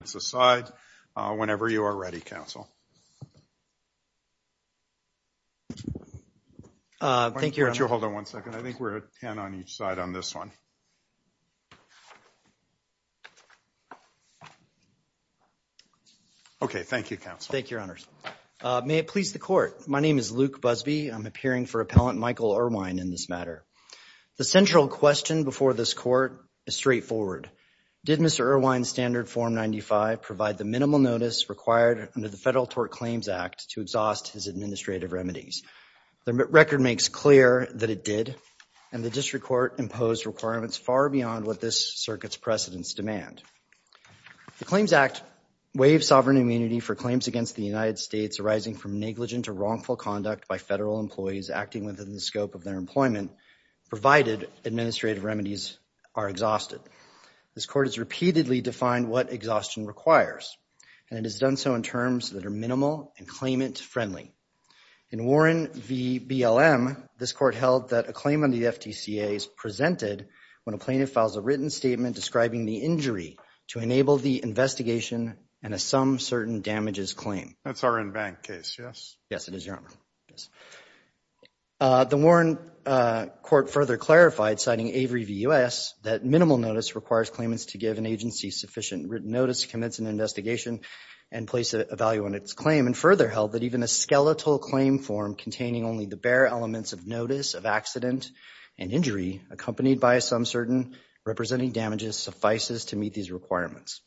The central question before this court is straightforward. Did Mr. Erwine's Standard Form 95 provide the minimal notice required under the Federal Tort Claims Act to exhaust his administrative remedies? The record makes clear that it did, and the district court imposed requirements far beyond what this circuit's precedents demand. The Claims Act waives sovereign immunity for claims against the United States arising from negligent or wrongful conduct by federal employees acting within the scope of their employment, and, provided, administrative remedies are exhausted. This court has repeatedly defined what exhaustion requires, and it has done so in terms that are minimal and claimant-friendly. In Warren v. BLM, this court held that a claim on the FTCA is presented when a plaintiff files a written statement describing the injury to enable the investigation and a some certain damages claim. That's our in-bank case, yes? Yes, it is, Your Honor. The Warren court further clarified, citing Avery v. U.S., that minimal notice requires claimants to give an agency sufficient written notice to commence an investigation and place a value on its claim, and further held that even a skeletal claim form containing only the bare elements of notice of accident and injury accompanied by a some certain representing damages suffices to meet these requirements.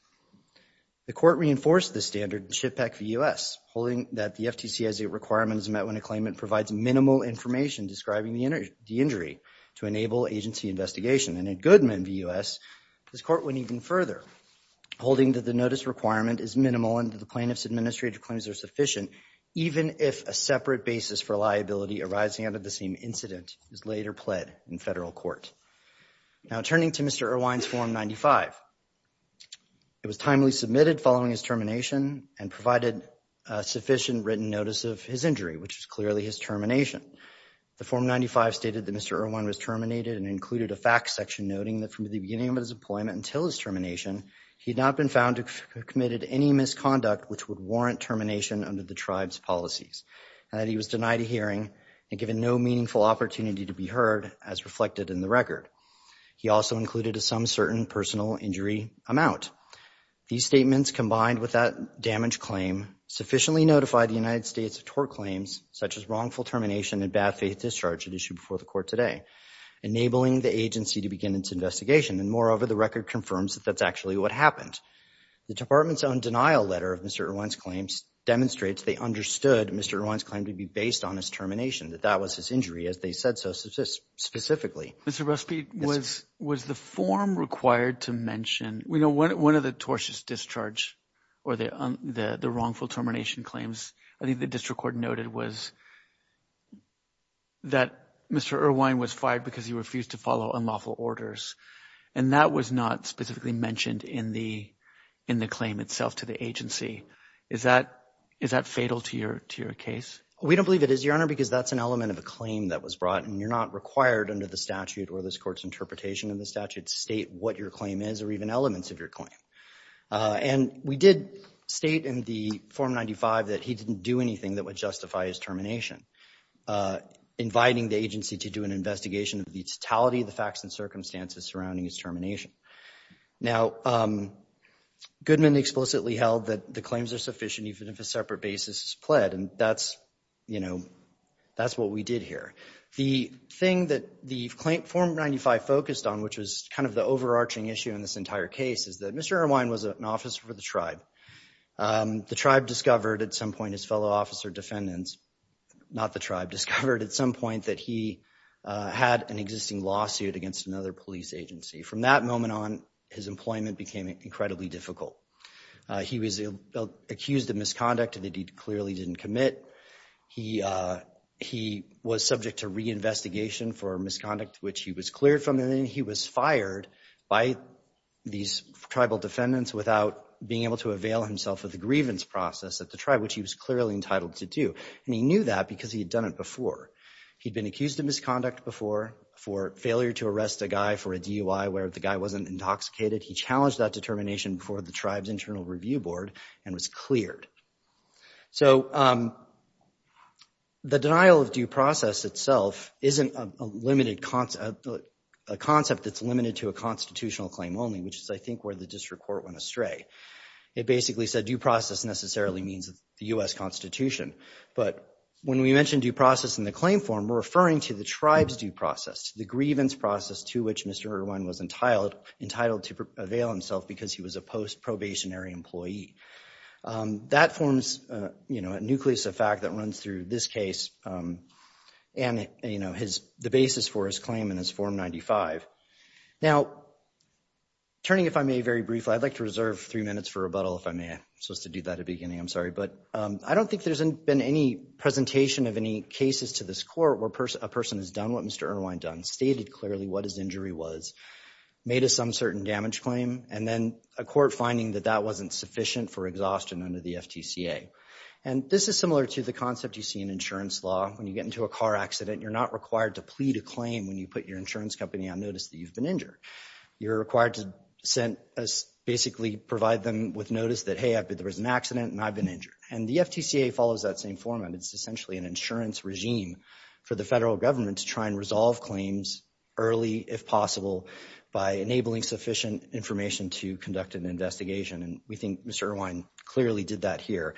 The court reinforced this standard in Chippeck v. U.S., holding that the FTC has the requirements met when a claimant provides minimal information describing the injury to enable agency investigation. And in Goodman v. U.S., this court went even further, holding that the notice requirement is minimal and that the plaintiff's administrative claims are sufficient, even if a separate basis for liability arising out of the same incident is later pled in federal court. Now turning to Mr. Irwine's Form 95, it was timely submitted following his termination and provided sufficient written notice of his injury, which is clearly his termination. The Form 95 stated that Mr. Irwine was terminated and included a fact section noting that from the beginning of his employment until his termination, he had not been found to have committed any misconduct which would warrant termination under the tribe's policies, and that he was denied a hearing and given no meaningful opportunity to be heard as reflected in the record. He also included a some certain personal injury amount. These statements combined with that damaged claim sufficiently notified the United States of tort claims such as wrongful termination and bad faith discharge at issue before the court today, enabling the agency to begin its investigation, and moreover, the record confirms that that's actually what happened. The department's own denial letter of Mr. Irwine's claims demonstrates they understood Mr. Irwine's claim to be based on his termination, that that was his injury as they said so specifically. Mr. Ruspe, was the form required to mention, you know, one of the tortious discharge or the wrongful termination claims, I think the district court noted was that Mr. Irwine was fired because he refused to follow unlawful orders, and that was not specifically mentioned in the claim itself to the agency. Is that fatal to your case? We don't believe it is, Your Honor, because that's an element of a claim that was brought and you're not required under the statute or this court's interpretation of the statute to state what your claim is or even elements of your claim. And we did state in the Form 95 that he didn't do anything that would justify his termination, inviting the agency to do an investigation of the totality of the facts and circumstances surrounding his termination. Now Goodman explicitly held that the claims are sufficient even if a separate basis is pled, and that's, you know, that's what we did here. The thing that the claim, Form 95 focused on, which was kind of the overarching issue in this entire case, is that Mr. Irwine was an officer for the tribe. The tribe discovered at some point, his fellow officer defendants, not the tribe, discovered at some point that he had an existing lawsuit against another police agency. From that moment on, his employment became incredibly difficult. He was accused of misconduct that he clearly didn't commit. He was subject to reinvestigation for misconduct, which he was cleared from, and then he was fired by these tribal defendants without being able to avail himself of the grievance process at the tribe, which he was clearly entitled to do. And he knew that because he had done it before. He'd been accused of misconduct before for failure to arrest a guy for a DUI where the guy wasn't intoxicated. He challenged that determination before the tribe's internal review board and was cleared. So, the denial of due process itself isn't a limited concept, a concept that's limited to a constitutional claim only, which is, I think, where the district court went astray. It basically said due process necessarily means the U.S. Constitution. But when we mentioned due process in the claim form, we're referring to the tribe's due process, the grievance process to which Mr. Irwine was entitled to avail himself because he was a post-probationary employee. That forms, you know, a nucleus of fact that runs through this case and, you know, the basis for his claim in his Form 95. Now, turning, if I may, very briefly, I'd like to reserve three minutes for rebuttal if I may. I'm supposed to do that at the beginning. I'm sorry. But I don't think there's been any presentation of any cases to this court where a person has done what Mr. Irwine done, stated clearly what his injury was, made a some certain damage claim, and then a court finding that that wasn't sufficient for exhaustion under the FTCA. And this is similar to the concept you see in insurance law. When you get into a car accident, you're not required to plead a claim when you put your insurance company on notice that you've been injured. You're required to send, basically provide them with notice that, hey, there was an accident and I've been injured. And the FTCA follows that same format. It's essentially an insurance regime for the federal government to try and resolve claims early if possible by enabling sufficient information to conduct an investigation. And we think Mr. Irwine clearly did that here.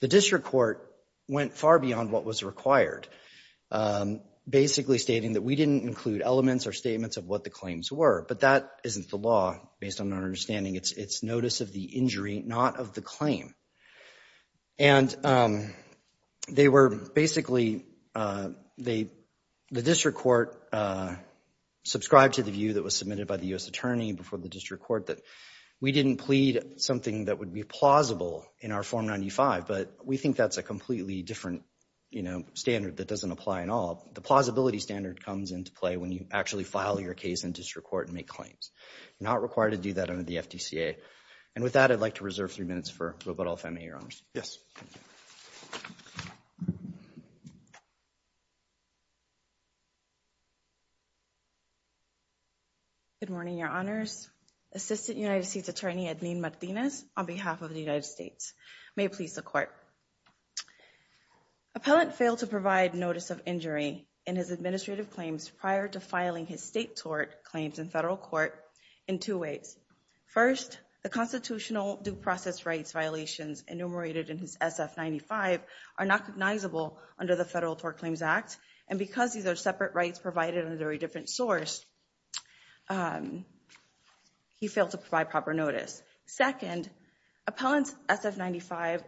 The district court went far beyond what was required, basically stating that we didn't include elements or statements of what the claims were. But that isn't the law, based on our understanding. It's notice of the injury, not of the claim. And they were basically, the district court subscribed to the view that was submitted by the U.S. attorney before the district court that we didn't plead something that would be plausible in our Form 95. But we think that's a completely different, you know, standard that doesn't apply at all. The plausibility standard comes into play when you actually file your case in district court and make claims. You're not required to do that under the FTCA. And with that, I'd like to reserve three minutes for Robotol Femi, Your Honors. Yes. Good morning, Your Honors. Assistant United States Attorney Edwin Martinez, on behalf of the United States, may please the court. Appellant failed to provide notice of injury in his administrative claims prior to filing his state tort claims in federal court in two ways. First, the constitutional due process rights violations enumerated in his SF-95 are not recognizable under the Federal Tort Claims Act. And because these are separate rights provided under a different source, he failed to provide proper notice. Second, Appellant's SF-95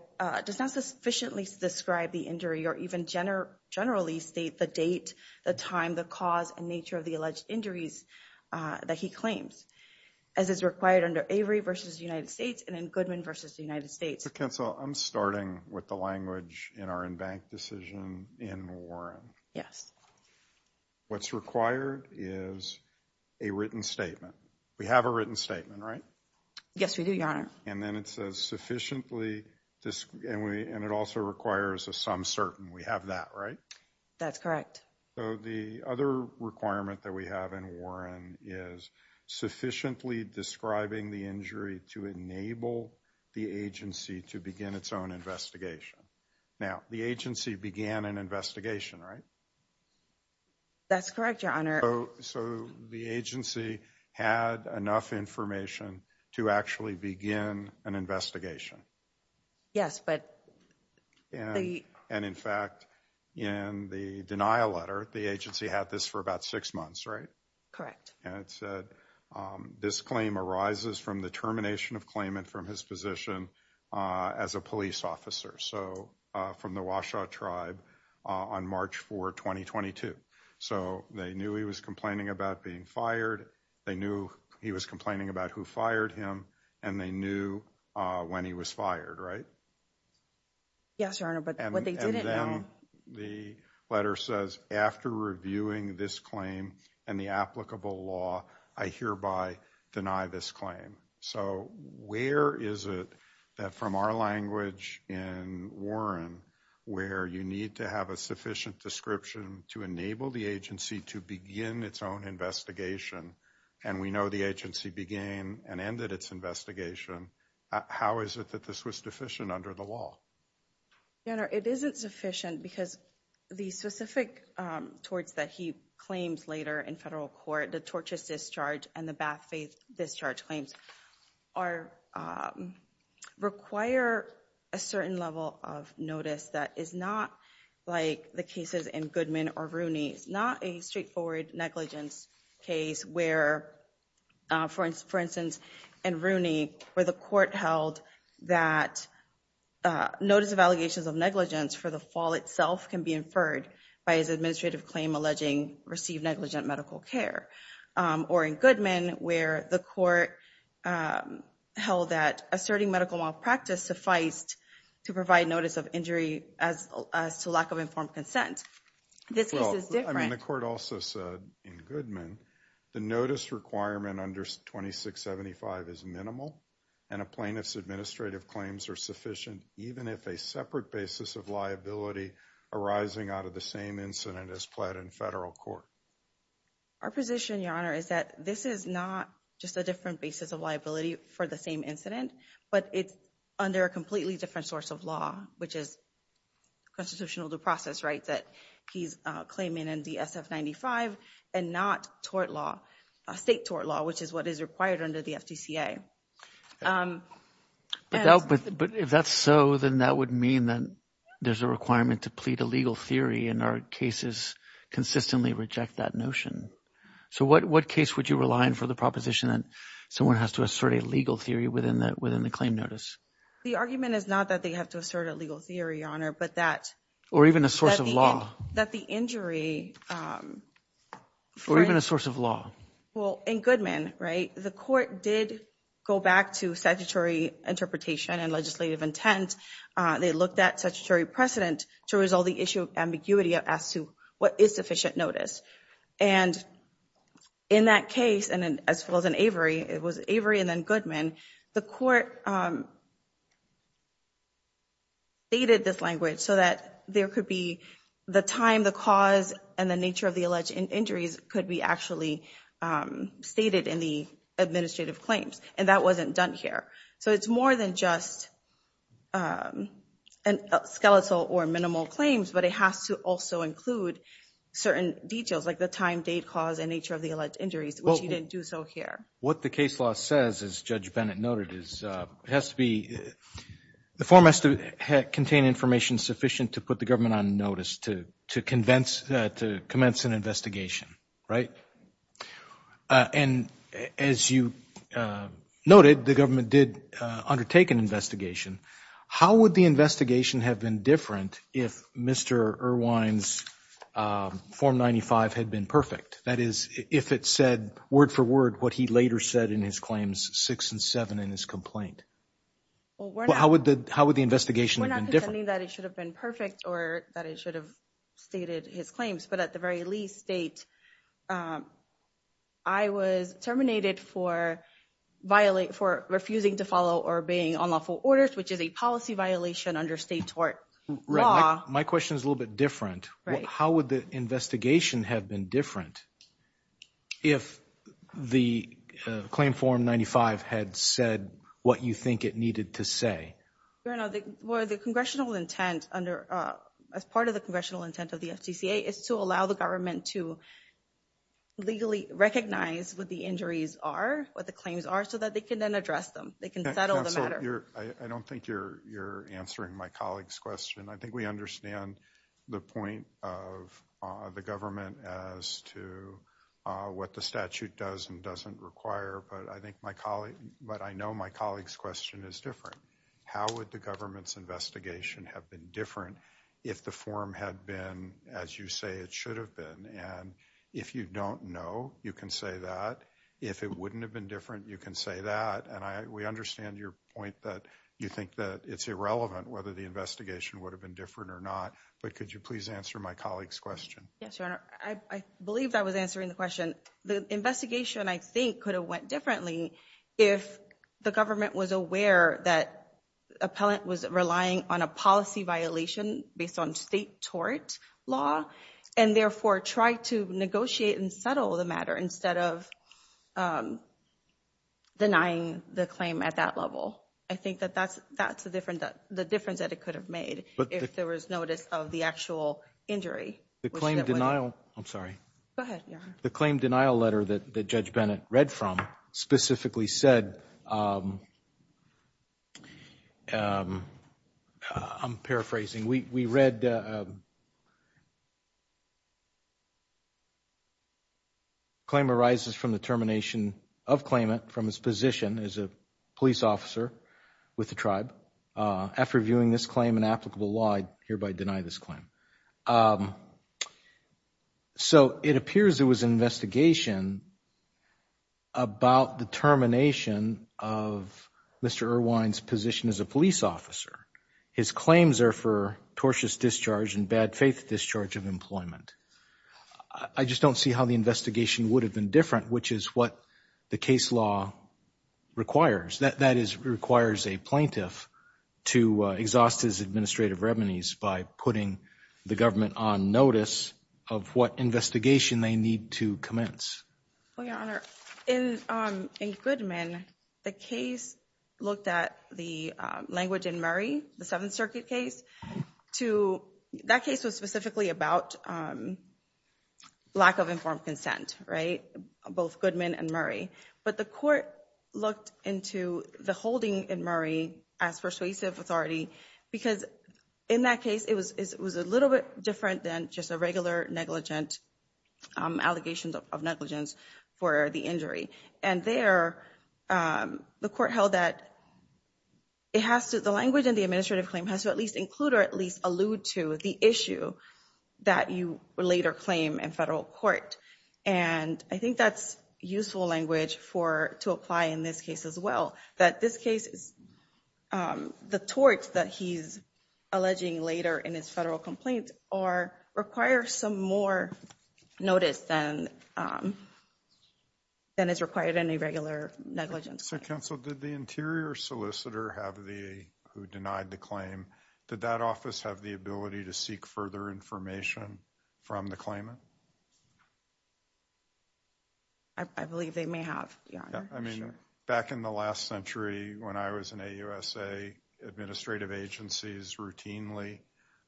does not sufficiently describe the injury or even generally state the date, the time, the cause, and nature of the alleged injuries that he claims. As is required under Avery v. United States and then Goodman v. United States. So, counsel, I'm starting with the language in our in-bank decision in Warren. Yes. What's required is a written statement. We have a written statement, right? Yes, we do, Your Honor. And then it says sufficiently, and it also requires a some certain. We have that, right? That's correct. So, the other requirement that we have in Warren is sufficiently describing the injury to enable the agency to begin its own investigation. Now, the agency began an investigation, right? That's correct, Your Honor. So, the agency had enough information to actually begin an investigation. Yes, but... And in fact, in the denial letter, the agency had this for about six months, right? Correct. And it said, this claim arises from the termination of claimant from his position as a police officer. So, from the Washoe tribe on March 4, 2022. So, they knew he was complaining about being fired. They knew he was complaining about who fired him. And they knew when he was fired, right? Yes, Your Honor. But what they didn't know... And then the letter says, after reviewing this claim and the applicable law, I hereby deny this claim. So, where is it that from our language in Warren, where you need to have a sufficient description to enable the agency to begin its own investigation? And we know the agency began and ended its investigation. How is it that this was sufficient under the law? Your Honor, it isn't sufficient because the specific torts that he claims later in federal court, the tortious discharge and the bad faith discharge claims, require a certain level of notice that is not like the cases in Goodman or Rooney. It's not a straightforward negligence case where, for instance, in Rooney, where the court held that notice of allegations of negligence for the fall itself can be inferred by his administrative claim alleging received negligent medical care. Or in Goodman, where the court held that asserting medical malpractice sufficed to provide notice of injury as to lack of informed consent. This case is different. Well, I mean, the court also said in Goodman, the notice requirement under 2675 is minimal and a plaintiff's administrative claims are sufficient even if a separate basis of liability arising out of the same incident is pled in federal court. Our position, Your Honor, is that this is not just a different basis of liability for the same incident, but it's under a completely different source of law, which is constitutional due process rights that he's claiming in the SF-95 and not tort law, state tort law, which is what is required under the FDCA. But if that's so, then that would mean that there's a requirement to plead a legal theory and our cases consistently reject that notion. So what case would you rely on for the proposition that someone has to assert a legal theory within the claim notice? The argument is not that they have to assert a legal theory, Your Honor, but that... Or even a source of law. That the injury... Or even a source of law. Well, in Goodman, right, the court did go back to statutory interpretation and legislative intent. They looked at statutory precedent to resolve the issue of ambiguity as to what is sufficient notice. And in that case, and as well as in Avery, it was Avery and then Goodman, the court stated this language so that there could be the time, the cause, and the nature of the alleged injuries could be actually stated in the administrative claims. And that wasn't done here. So it's more than just skeletal or minimal claims, but it has to also include certain details like the time, date, cause, and nature of the alleged injuries, which you didn't do so here. What the case law says, as Judge Bennett noted, is it has to be... The form has to contain information sufficient to put the government on notice to commence an investigation, right? And as you noted, the government did undertake an investigation. How would the investigation have been different if Mr. Irwine's Form 95 had been perfect? That is, if it said word for word what he later said in his claims 6 and 7 in his complaint? How would the investigation have been different? We're not contending that it should have been perfect or that it should have stated his claims. But at the very least, State, I was terminated for refusing to follow or obeying unlawful orders, which is a policy violation under state tort law. My question is a little bit different. How would the investigation have been different if the Claim Form 95 had said what you think it needed to say? Well, the congressional intent under... As part of the congressional intent of the FTCA is to allow the government to legally recognize what the injuries are, what the claims are, so that they can then address them. They can settle the matter. Counselor, I don't think you're answering my colleague's question. I think we understand the point of the government as to what the statute does and doesn't require. But I think my colleague... But I know my colleague's question is different. How would the government's investigation have been different if the form had been as you say it should have been? And if you don't know, you can say that. If it wouldn't have been different, you can say that. And we understand your point that you think that it's irrelevant whether the investigation would have been different or not. But could you please answer my colleague's question? Yes, Your Honor. I believe I was answering the question. The investigation, I think, could have went differently if the government was aware that appellant was relying on a policy violation based on state tort law, and therefore tried to negotiate and settle the matter instead of denying the claim at that level. I think that that's the difference that it could have made if there was notice of the actual injury. The claim denial... I'm sorry. Go ahead, Your Honor. The claim denial letter that Judge Bennett read from specifically said, I'm paraphrasing, we read, claim arises from the termination of claimant from his position as a police officer with the tribe. After viewing this claim in applicable law, I hereby deny this claim. So it appears there was an investigation about the termination of Mr. Irwine's position as a police officer. His claims are for tortious discharge and bad faith discharge of employment. I just don't see how the investigation would have been different, which is what the case law requires. That is, requires a plaintiff to exhaust his administrative remedies by putting the government on notice of what investigation they need to commence. Well, Your Honor, in Goodman, the case looked at the language in Murray, the Seventh Circuit case to... That case was specifically about lack of informed consent, right? Both Goodman and Murray. But the court looked into the holding in Murray as persuasive authority because in that case, it was a little bit different than just a regular negligent, allegations of negligence for the injury. And there, the court held that it has to... The language in the administrative claim has to at least include or at least allude to the issue that you later claim in federal court. And I think that's useful language to apply in this case as well. That this case is... The torts that he's alleging later in his federal complaint are... Require some more notice than is required in a regular negligence. So, counsel, did the interior solicitor have the... Who denied the claim, did that office have the ability to seek further information from the claimant? I believe they may have, Your Honor, I'm sure. Back in the last century, when I was in AUSA, administrative agencies routinely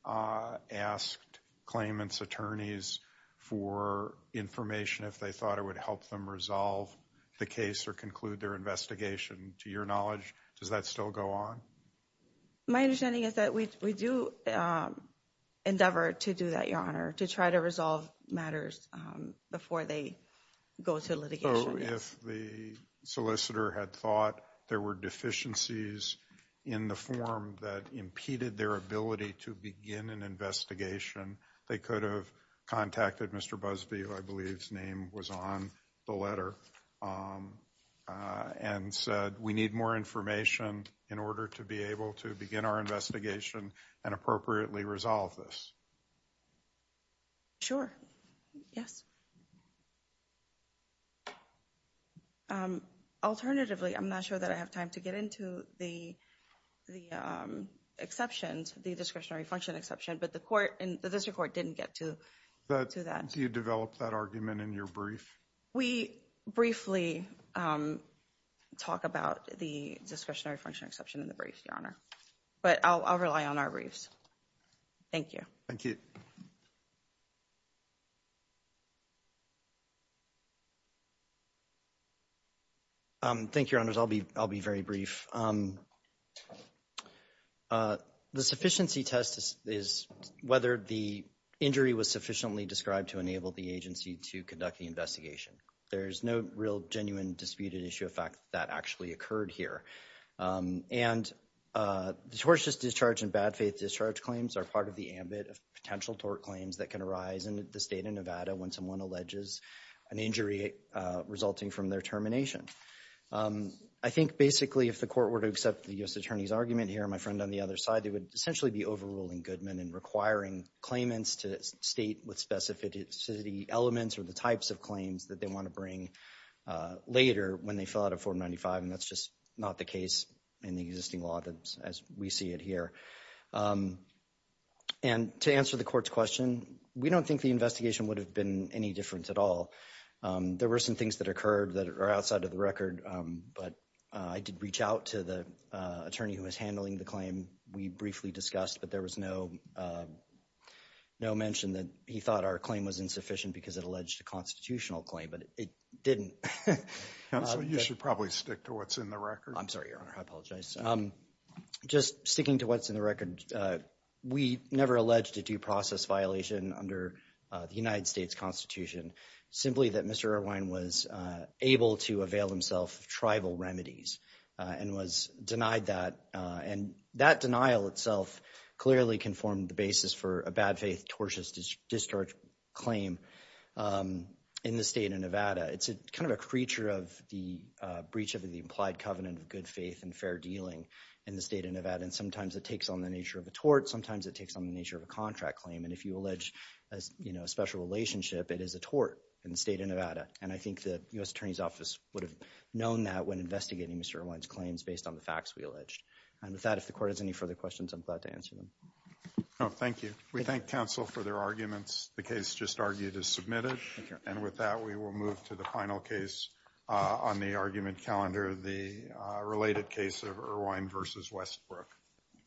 asked claimant's attorneys for information if they thought it would help them resolve the case or conclude their investigation. To your knowledge, does that still go on? My understanding is that we do endeavor to do that, Your Honor, to try to resolve matters before they go to litigation, yes. If the solicitor had thought there were deficiencies in the form that impeded their ability to begin an investigation, they could have contacted Mr. Busby, who I believe's name was on the letter, and said, we need more information in order to be able to begin our investigation and appropriately resolve this. Sure, yes. Alternatively, I'm not sure that I have time to get into the exceptions, the discretionary function exception, but the court, the district court didn't get to that. Do you develop that argument in your brief? We briefly talk about the discretionary function exception in the brief, Your Honor, but I'll rely on our briefs. Thank you. Thank you. Thank you, Your Honors. I'll be very brief. The sufficiency test is whether the injury was sufficiently described to enable the agency to conduct the investigation. There's no real, genuine, disputed issue of fact that actually occurred here. And tortious discharge and bad faith discharge claims are part of the ambit of potential tort claims that can arise in the state of Nevada when someone alleges an injury resulting from their termination. I think, basically, if the court were to accept the U.S. Attorney's argument here and my friend on the other side, they would essentially be overruling Goodman and requiring claimants to state with specificity elements or the types of claims that they want to bring later when they fill out a 495, and that's just not the case in the existing law as we see it here. And to answer the court's question, we don't think the investigation would have been any different at all. There were some things that occurred that are outside of the record, but I did reach out to the attorney who was handling the claim. We briefly discussed, but there was no mention that he thought our claim was insufficient because it alleged a constitutional claim, but it didn't. So you should probably stick to what's in the record. I'm sorry, Your Honor. I apologize. Just sticking to what's in the record, we never alleged a due process violation under the United States Constitution, simply that Mr. Irvine was able to avail himself of tribal remedies and was denied that, and that denial itself clearly can form the basis for a bad faith tortious discharge claim in the state of Nevada. It's kind of a creature of the breach of the implied covenant of good faith and fair dealing in the state of Nevada, and sometimes it takes on the nature of a tort, sometimes it takes on the nature of a contract claim, and if you allege a special relationship, it is a tort in the state of Nevada, and I think the U.S. Attorney's Office would have known that when investigating Mr. Irvine's claims based on the facts we alleged. And with that, if the court has any further questions, I'm glad to answer them. No, thank you. We thank counsel for their arguments. The case just argued is submitted, and with that, we will move to the final case on the argument calendar, the related case of Irvine v. Westbrook.